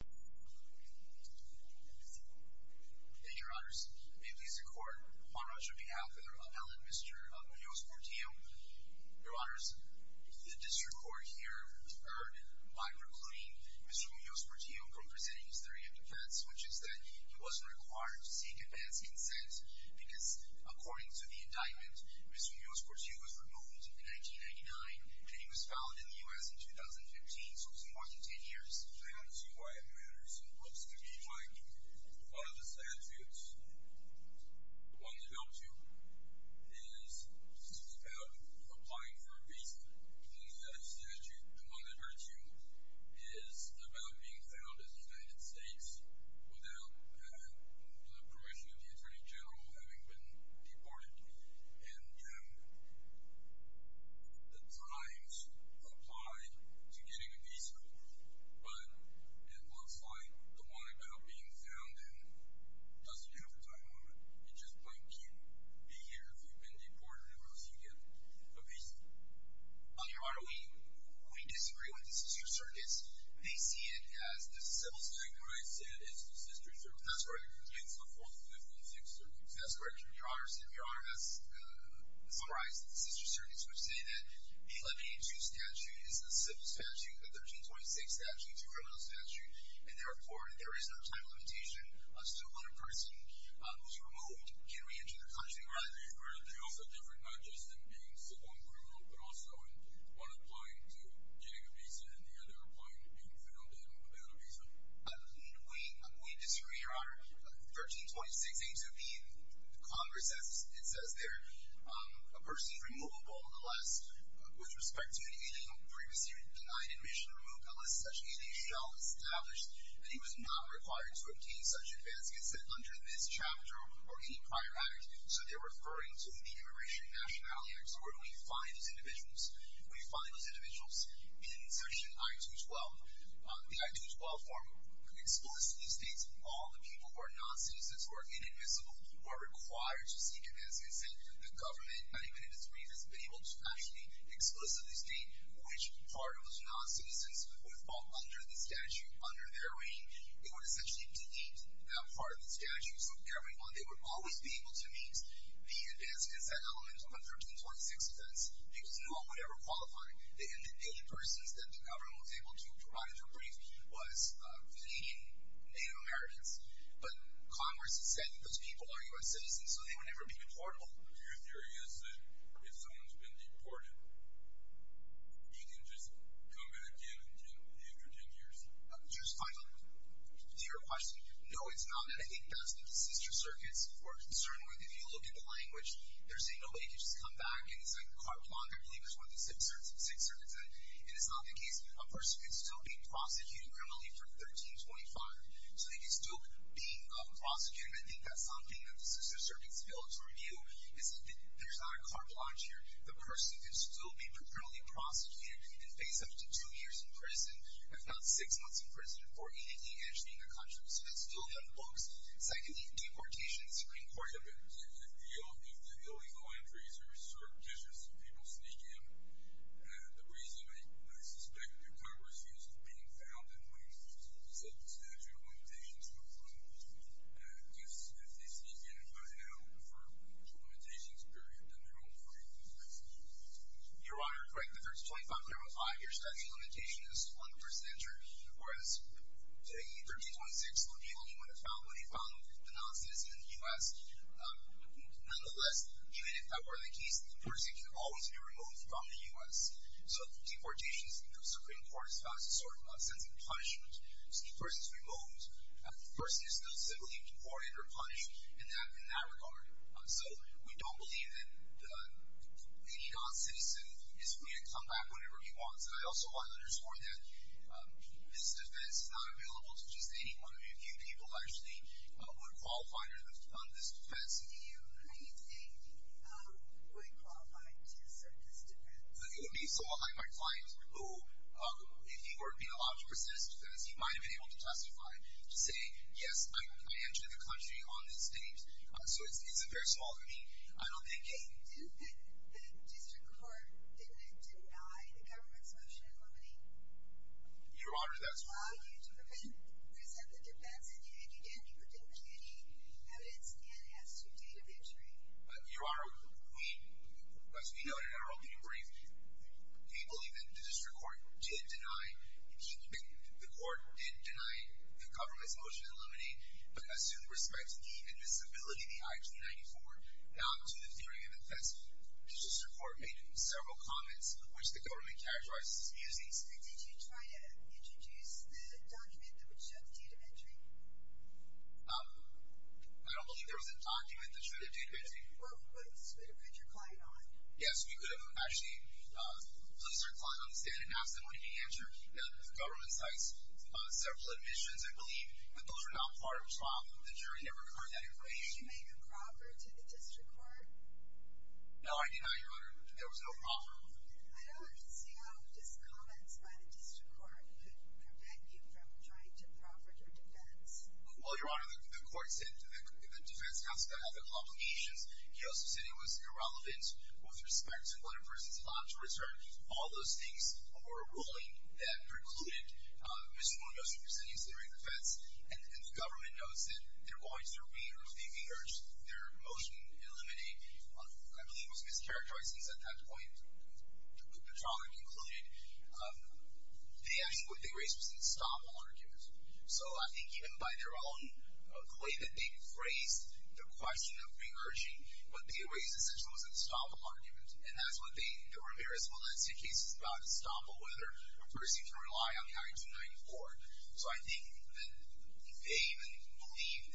Thank you, Your Honors. May it please the Court, on behalf of Mr. Munoz-Portillo, Your Honors, the District Court here erred by proclaiming Mr. Munoz-Portillo from presenting his theory of defense, which is that he wasn't required to seek advanced consent because, according to the indictment, Mr. Munoz-Portillo was removed in 1999, and he was found in the U.S. in 2015, so it's more than 10 years. That's why it matters, and it looks to me like one of the statutes, the one that helps you, is about applying for a visa. That statute, the one that hurts you, is about being found in the United States without the permission of the Attorney General having been deported. And the times apply to getting a visa, but it looks like the one about being found in doesn't have a time limit. It just makes you be here if you've been deported or else you get a visa. Your Honor, we disagree with these two circuits. They see it as a civil statute, where it says it's a sister circuit. That's correct. It's the 4th and 5th and 6th circuits. That's correct, Your Honor. Your Honor, that's summarized in the sister circuits. We're saying that the 1182 statute is a civil statute, the 1326 statute is a criminal statute, and therefore, there is no time limitation. So when a person who's removed can re-enter the country, right? Correct. They also have different matches in being a civil and criminal, but also in one applying to getting a visa and the other applying to being found without a visa. We disagree, Your Honor. The 1326 aims to be in Congress, as it says there. A person is removable, nonetheless, with respect to any previously denied admission, removed unless such an NHL is established, and he was not required to obtain such advance consent under this chapter or any prior act. So they're referring to the Immigration and Nationality Act. So where do we find those individuals? We find those individuals in section I-212. The I-212 form explicitly states all the people who are non-citizens, who are invisible, who are required to seek advance consent. The government, not even in its brief, has been able to actually explicitly state which part of those non-citizens would fall under the statute, under their wing. It would essentially delete that part of the statute. So everyone, they would always be able to meet the advance consent element of the 1326 defense because no one would ever qualify. The only persons that the government was able to provide for brief was Canadian Native Americans. But Congress has said that those people are U.S. citizens, so they would never be deportable. Your theory is that if someone's been deported, you can just come in again after 10 years? Just finally, to your question, no, it's not. And I think that's what the seizure circuits were concerned with. If you look at the language, they're saying nobody can just come back. And it's like the court of law, I believe, is one of the six circuits. And it's not the case. A person could still be prosecuting criminally for 1325. So they could still be prosecuted. I think that's something that the seizure circuits failed to reveal is that there's not a carte blanche here. The person could still be criminally prosecuted and face up to two years in prison, if not six months in prison, or 18 years in a country. So that's still in the books. Secondly, deportation is a great part of it. And if you look at the illegal entries, there are certain pictures of people sneaking them. The reason, I suspect, your court refused to pin it down is because of the statute of limitations that was put in place. If you can find out for the limitations period, then we're all free. Your Honor, correct. If it's 2535, your statute of limitations is 1%. Whereas taking 1326 would be only when it's found when you found the non-citizen in the U.S. Nonetheless, if that were the case, the person could always be removed from the U.S. So deportation, the Supreme Court has found some sort of punishment to keep persons removed. The person is still civilly deported or punished in that regard. So we don't believe that any non-citizen is free and can come back whenever he wants. And I also want to underscore that this defense is not available to just anyone. I mean, few people actually would qualify on this defense. Do you think you would qualify to submit this defense? It would be so that I might find who, if he were being allowed to persist, because he might have been able to testify, to say, yes, I entered the country on this date. So it's a very small degree. I don't think... Did the district court deny the government's motion limiting? Your Honor, that's right. Did the district court allow you to present the defense, and you didn't predict any evidence and as to date of entry? Your Honor, as we noted in our opening brief, we believe that the district court did deny the government's motion to eliminate, but assumed respect to the invisibility of the IG-94, not to the theory of infestment. The district court made several comments, which the government characterized as amusing. Did you try to introduce the document that would show the date of entry? I don't believe there was a document that showed the date of entry. Well, what would you have put your client on? Yes, we could have actually placed our client on the stand and asked him when he entered the government site's several admissions. I believe, but those are not part of the problem. The jury never heard that information. Did you make a proffer to the district court? No, I did not, Your Honor. There was no proffer. I don't understand how just comments by the district court could prevent you from trying to proffer to a defense. Well, Your Honor, the court said the defense has to have the complications. He also said it was irrelevant with respect to whether a person is allowed to return. All those things were a ruling that precluded Mr. Munoz from presenting his theory of defense, and the government notes that they're going to review their motion to eliminate. I believe it was mischaracterized, since at that point the trial had concluded. They actually, what they raised was an estoppel argument. So I think even by their own claim that they've raised the question of re-urging, what they raised essentially was an estoppel argument, and that is what they, there were various valencia cases about estoppel, whether a person can rely on the I-294. So I think that they even believed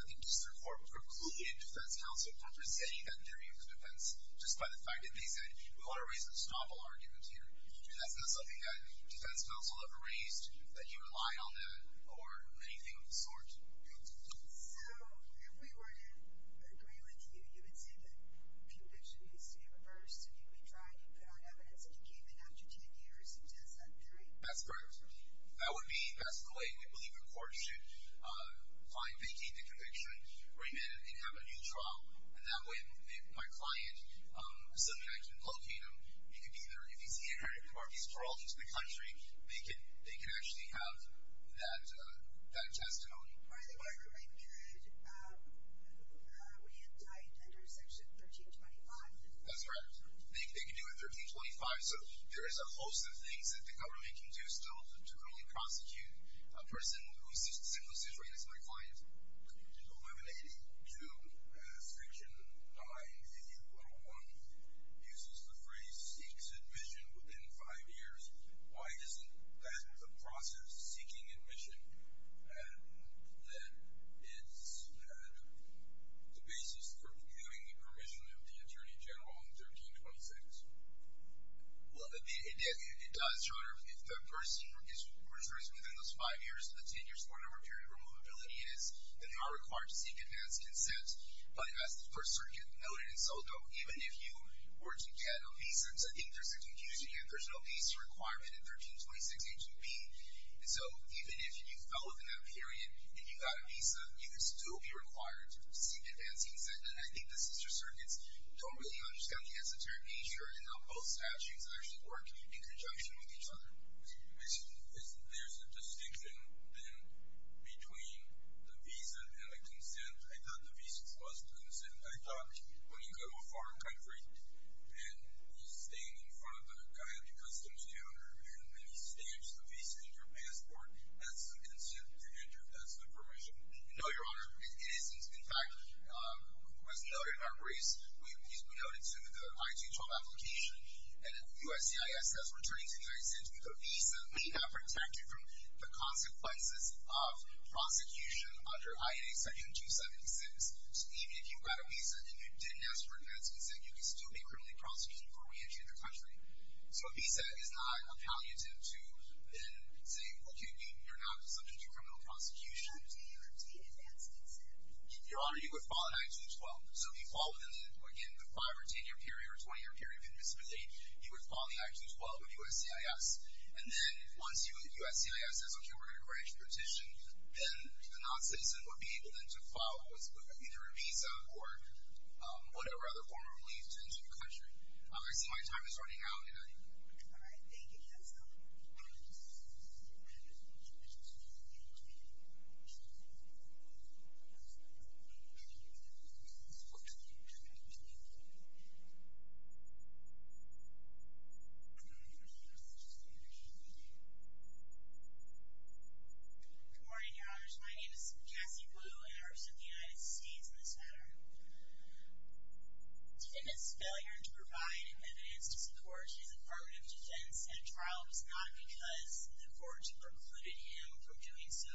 that the district court precluded defense counsel from presenting that theory of defense just by the fact that they said, we want to raise an estoppel argument here. That's not something that defense counsel ever raised, that you rely on that or anything of the sort. So if we were to agree with you, you would say that conviction needs to be reversed, and that we tried and found evidence, and he came in after 10 years and does that theory? That's correct. That would be, that's the way we believe the court should find, vacate the conviction, remand it, and have a new trial. And that way, if my client, assuming I can locate him, he could be the refugee center or he's paroled into the country, they can actually have that testimony. By the way, we could re-entitle under section 1325. That's correct. They could do it 1325. So there is a host of things that the government can do still to only prosecute a person who is the same situation as my client. Eliminating to section 901 uses the phrase, seeks admission within five years. Why isn't that the process, seeking admission, that is the basis for viewing permission of the attorney general in 1326? Well, it does, John. If the person is retrieved within those five years, the 10 years or whatever period of removability is, then they are required to seek advanced consent. That's the First Circuit noted, and so even if you were to get a visa, I think there's a confusion here. There's no visa requirement in 1326 HUB. So even if you fell within that period and you got a visa, you would still be required to seek advanced consent. I think the sister circuits don't really understand the esoteric nature in how both statutes actually work in conjunction with each other. There's a distinction, then, between the visa and the consent. I thought the visa was the consent. I thought when you go to a foreign country and you stand in front of the guy at the customs counter and then he stamps the visa in your passport, that's the consent to enter, that's the permission. No, Your Honor. It isn't. In fact, as we noted in our briefs, we noted to the I-212 application, and USCIS, as we're turning to the United States, a visa may not protect you from the consequences of prosecution under IA Section 276. So even if you got a visa and you didn't ask for advanced consent, you could still be criminally prosecuted before reentering the country. So a visa is not a palliative to then saying, look, you're now subject to criminal prosecution. Your Honor, you would file an I-212. So if you file within, again, the 5- or 10-year period or 20-year period of invisibility, you would file the I-212 with USCIS. And then once USCIS says, okay, we're going to grant you a petition, then a non-citizen would be able then to file either a visa or whatever other form of relief to enter the country. All right. Thank you, counsel. Thank you. Good morning, Your Honors. My name is Cassie Blue, and I represent the United States in this matter. Defendant's failure to provide evidence to support his affirmative defense at a trial was not because the court precluded him from doing so.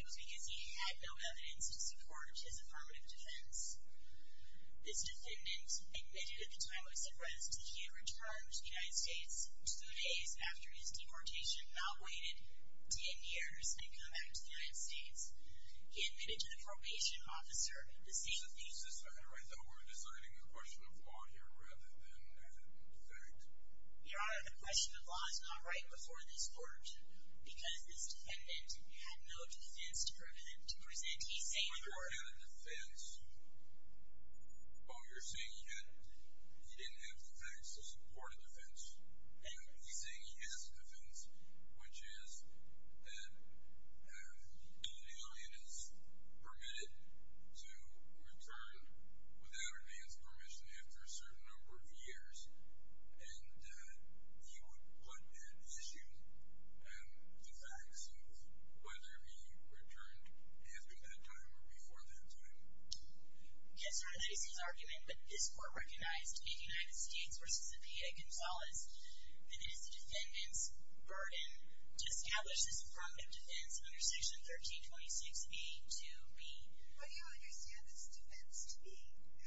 It was because he had no evidence to support his affirmative defense. This defendant admitted at the time of his arrest that he had returned to the United States two days after his deportation, not waited 10 years, to come back to the United States. He admitted to the probation officer the same... Excuse me just a second right there. We're designing a question of law here rather than a fact. Your Honor, the question of law is not right before this court because this defendant had no defense to present. He's saying that... He didn't have a defense. Oh, you're saying he didn't have the facts to support a defense? No, he's saying he has a defense, which is that an alien is permitted to return without a man's permission after a certain number of years, and he would put that decision on the facts of whether he returned after that time or before that time. Yes, Your Honor, that is his argument, but this court recognized in the United States versus the PA, Gonzales, that it is the defendant's burden to establish his affirmative defense under Section 1326B to be... But you understand it's a defense to be,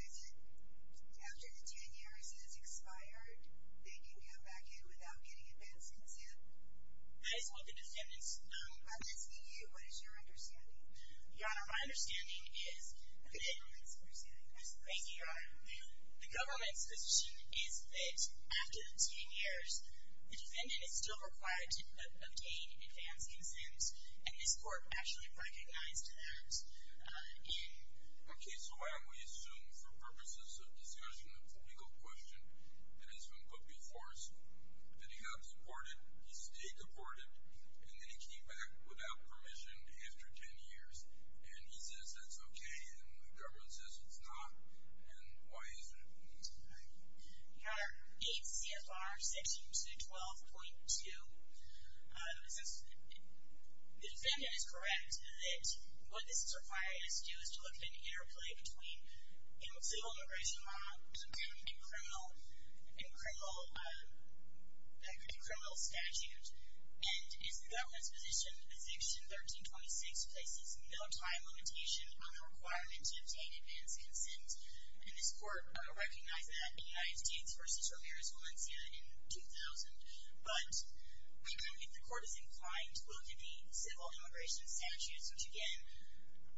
is it after the 10 years has expired, they can come back in without getting advanced consents? That is what the defendant's... I'm asking you, what is your understanding? Your Honor, my understanding is... The government's understanding. Thank you, Your Honor. The government's position is that after the 10 years, the defendant is still required to obtain advanced consents, and this court actually recognized that. Okay, so I only assume for purposes of discussion of a legal question that has been put before us that he got deported, he stayed deported, and then he came back without permission after 10 years, and he says that's okay, and the government says it's not, and why is it? Your Honor, in CFR Section 12.2, the defendant is correct that what this is required us to do is to look at an interplay between civil immigration law and criminal statute, and as the government's position, Section 1326 places no time limitation on the requirement to obtain advanced consents, and this court recognized that in United States v. Ramirez, in 2000, but if the court is inclined to look at the civil immigration statutes, which again,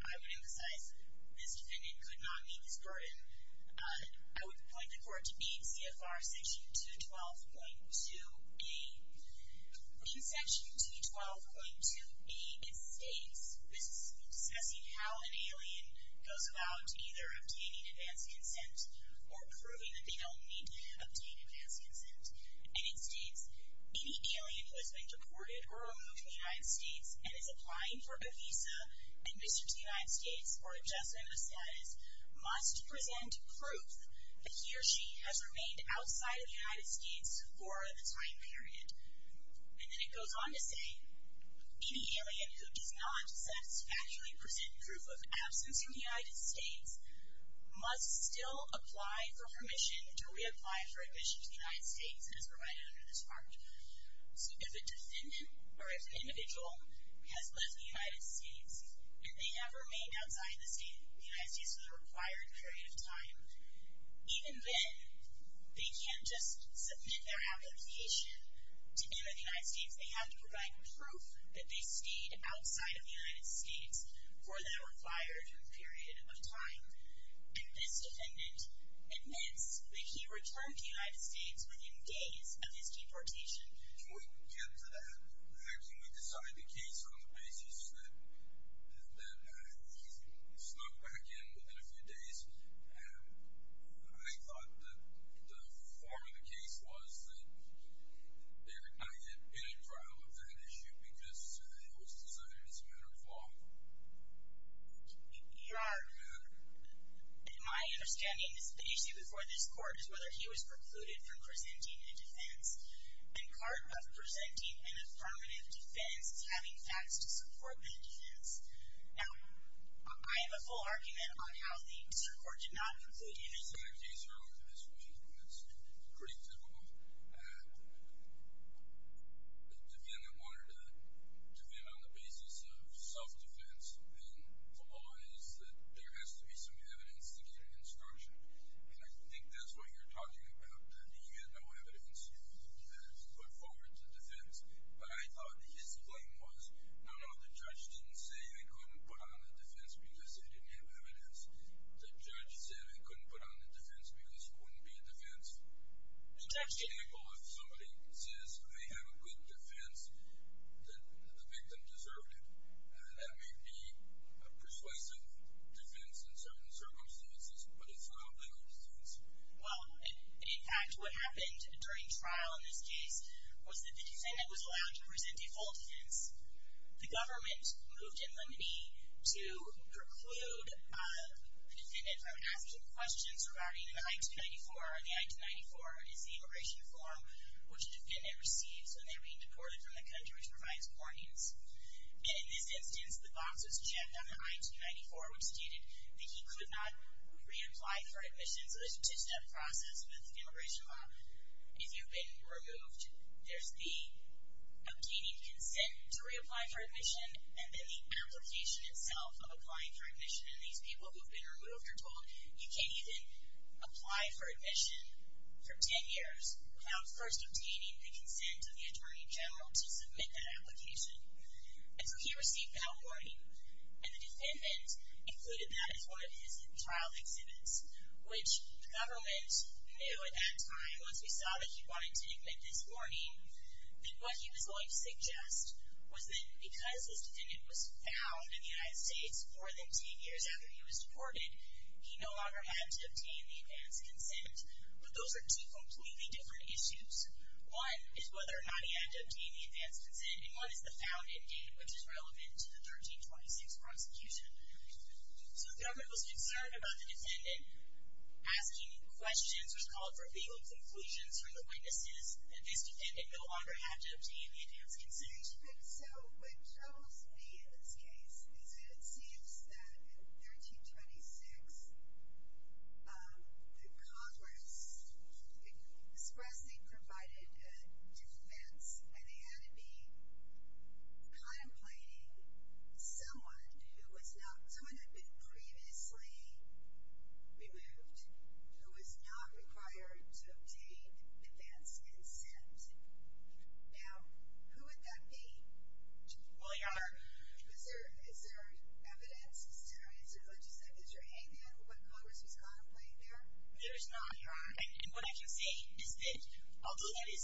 I would emphasize, this defendant could not meet this burden, I would point the court to being CFR Section 212.2A. In Section 212.2A, it states, this is discussing how an alien goes about either obtaining advanced consent or proving that they don't need to obtain advanced consent, and it states, any alien who has been deported or removed from the United States and is applying for a visa and visiting the United States for adjustment of status must present proof that he or she has remained outside of the United States for the time period, and then it goes on to say, any alien who does not satisfactorily present proof of absence in the United States must still apply for permission to reapply for admission to the United States and is provided under this part. So if a defendant or an individual has left the United States and they have remained outside the United States for the required period of time, even then, they can't just submit their application to enter the United States. They have to provide proof that they stayed outside of the United States for the required period of time. And this defendant admits that he returned to the United States within days of his deportation. Before we get into that, when we decided the case on the basis that he snuck back in within a few days, I thought that the form of the case was that it had been a trial of that issue because it was decided as a matter of law. Your Honor, in my understanding, the issue before this Court is whether he was precluded from presenting in a defense, and part of presenting in a permanent defense is having facts to support that defense. Now, I have a full argument on how the District Court did not conclude in this way. These are all dismissed, which is pretty typical. The defendant wanted a defendant on the basis of self-defense, and the law is that there has to be some evidence to get an instruction, and I think that's what you're talking about. You had no evidence. You put forward the defense, but I thought his claim was, no, no, the judge didn't say they couldn't put on a defense because they didn't have evidence. The judge said they couldn't put on a defense because it wouldn't be a defense. The judge didn't... For example, if somebody says they have a good defense, then the victim deserved it. That may be a persuasive defense in certain circumstances, but it's not a legal defense. Well, in fact, what happened during trial in this case was that the defendant was allowed to present a full defense. The government moved in limine to preclude the defendant from asking questions regarding the I-294, and the I-294 is the immigration form which the defendant receives when they're being deported from the country, which provides warnings. In this instance, the box was checked on the I-294, which stated that he could not reapply for admission, so there's a two-step process with the immigration law. If you've been removed, there's the obtaining consent to reapply for admission, and then the application itself of applying for admission, and these people who've been removed are told you can't even apply for admission for ten years without first obtaining the consent of the attorney general to submit that application. And so he received that warning, and the defendant included that in one of his trial exhibits, which the government knew at that time, once we saw that he wanted to admit this warning, that what he was going to suggest was that because this defendant was found in the United States more than ten years after he was deported, he no longer had to obtain the advance consent. But those are two completely different issues. One is whether or not he had to obtain the advance consent, and one is the found-in date, which is relevant to the 1326 prosecution. So the government was concerned about the defendant asking questions or calling for legal conclusions from the witnesses, and this defendant no longer had to obtain the advance consent. Okay, so what troubles me in this case is that it seems that in 1326, the Congress expressing provided a defense, and they had to be complaining someone who was not someone who had been previously removed, who was not required to obtain advance consent. Now, who would that be? Well, Your Honor, is there evidence? Is there an answer? Like you said, is there a hand in? What Congress was contemplating there? There is not, Your Honor. And what I can say is that although that is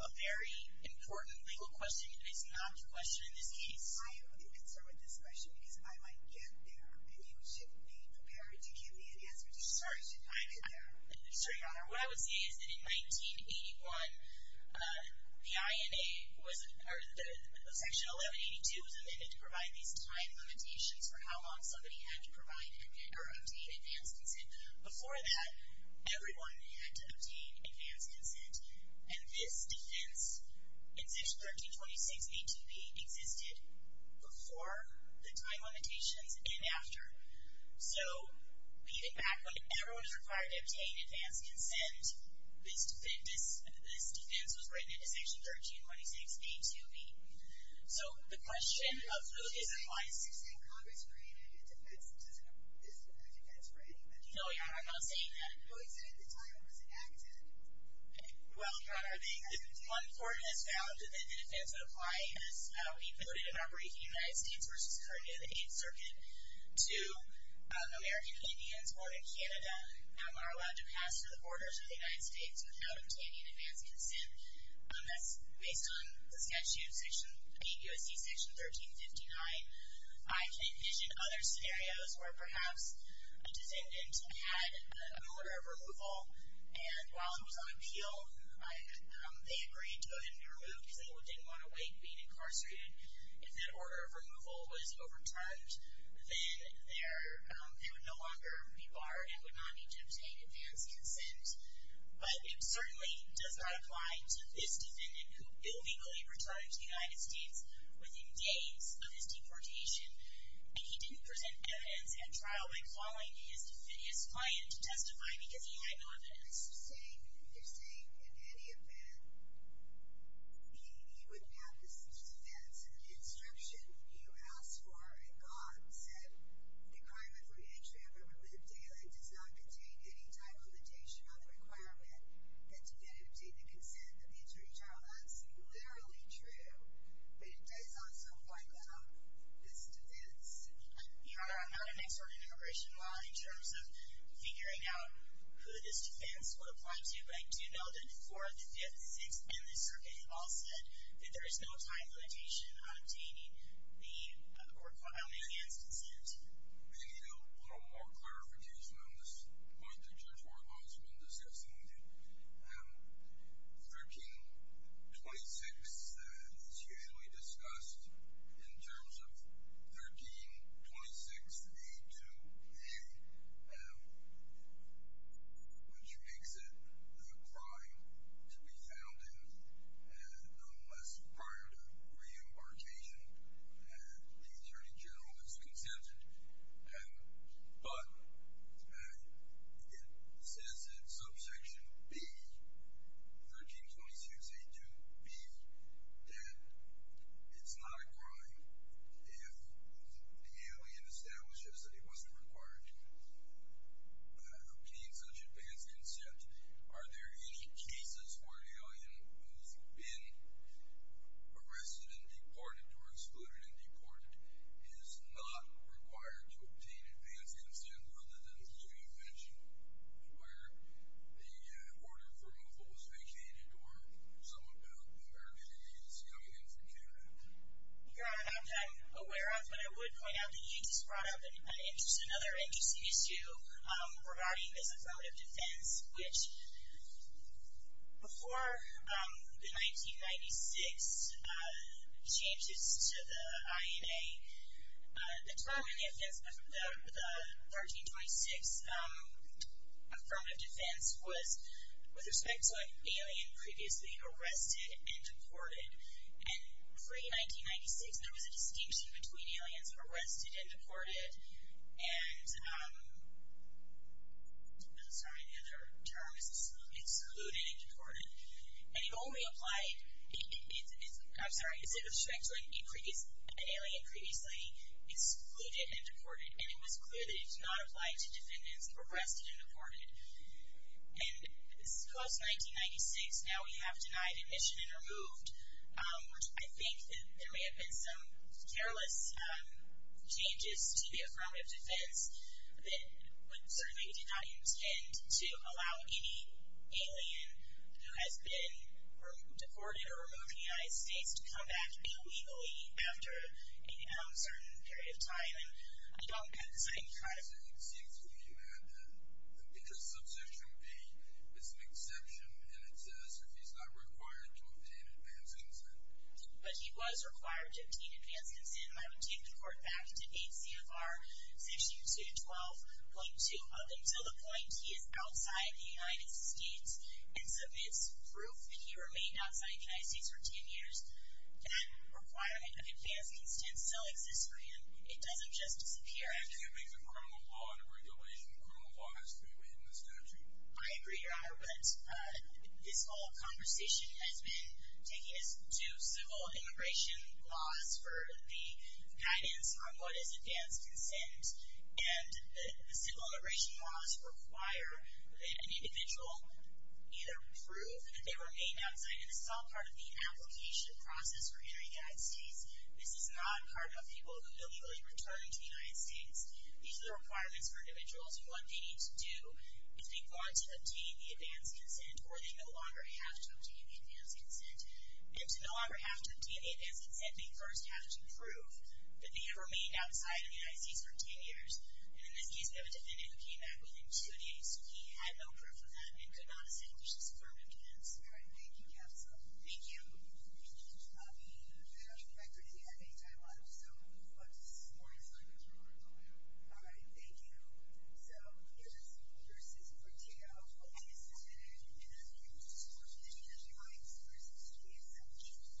a very important legal question, it is not a question in this case. I am the answer with this question, because I might get there, and you should be prepared to give me an answer to start. Should I get there? Sure, Your Honor. What I would say is that in 1981, the section 1182 was amended to provide these time limitations for how long somebody had to obtain advance consent. Before that, everyone had to obtain advance consent, and this defense, in Section 1326 ATP, existed before the time limitations and after. So, even back when everyone was required to obtain advance consent, this defense was written into Section 1326 A2B. So, the question is, why is 16th Congress creating a defense that doesn't have advance consent? No, Your Honor, I'm not saying that. No, you said at the time it wasn't active. Well, Your Honor, one court has found that the defense would apply if we voted an operation in the United States versus a hearing in the Eighth Circuit to American Indians born in Canada are allowed to pass through the borders of the United States without obtaining advance consent. That's based on the statute, Section 8 U.S.C. Section 1359. I can envision other scenarios where perhaps a descendant had an order of removal, and while he was on appeal, they agreed to go ahead and remove him because they didn't want to wait being incarcerated. If that order of removal was overturned, then they would no longer be barred and would not need to obtain advance consent. But it certainly does not apply to this defendant who illegally returned to the United States within days of his deportation, and he didn't present evidence at trial by calling his client to testify because he had no evidence. You're saying, in any event, he wouldn't have this defense, and the instruction you asked for and got said, the requirement for the entry of a remitted daily does not contain any time limitation on the requirement that you then obtain the consent that the attorney general asked for. Literally true. But it does also apply to this defense. Your Honor, I'm not an expert in immigration law in terms of figuring out who this defense would apply to, but in 2004, the Fifth, Sixth, and the Circuit have all said that there is no time limitation on obtaining the court-filed advance consent. May I put a little more clarification on this point that Judge Warhol has been discussing with you? 1326 is usually discussed in terms of 1326A2A, which makes it a crime to be found in unless prior to reimbarkation, the attorney general has consented. But it says in subsection B, 1326A2B, that it's not a crime if the alien establishes that he wasn't required to obtain such advance consent. Are there any cases where an alien who's been arrested and deported or excluded and deported is not required to obtain advance consent other than, as you mentioned, where the order for removal was vacated or some other case coming into Canada? Your Honor, I'm not aware of, but I would point out that you just brought up another interesting issue regarding this affirmative defense, which before the 1996 changes to the INA, the 12th and the 1326 affirmative defense was with respect to an alien previously arrested and deported. And pre-1996, there was a distinction between aliens arrested and deported. And, I'm sorry, the other term is excluded and deported. And it only applied, I'm sorry, it was with respect to an alien previously excluded and deported, and it was clear that it did not apply to defendants arrested and deported. And post-1996, now we have denied admission and removed. I think that there may have been some careless changes to the affirmative defense that would certainly deny intent to allow any alien who has been deported or removed from the United States to come back illegally after a certain period of time. And I don't think... I think it seems to me you had that, because subsection B is an exception, and it says if he's not required to obtain advance consent. But he was required to obtain advance consent. And I would take the court back to 8 CFR section 212.2 of it. So the point, he is outside the United States and submits proof that he remained outside the United States for 10 years. That requirement of advance consent still exists for him. It doesn't just disappear. I think it makes a criminal law and a regulation. A criminal law has to be within the statute. I agree, Your Honor, but this whole conversation has been taking us to civil immigration laws for the guidance on what is advance consent. And the civil immigration laws require that an individual either prove that they remained outside, and this is all part of the application process for entering the United States. This is not part of people illegally returning to the United States. These are the requirements for individuals, and what they need to do is they want to obtain the advance consent or they no longer have to obtain the advance consent. They no longer have to obtain the advance consent. They first have to prove that they remained outside of the United States for 10 years. And in this case, we have a defendant who came back within two days. He had no proof of that and could not establish his affirmative defense. All right. Thank you, counsel. Thank you. We have a record here. I think I'm on. So we'll move on to this morning's argument. We'll work on that. All right. Thank you. So we have a simple jurisdiction for Tao. I just have an argument. I think it was just a question of the jurisdiction by its sources to be established.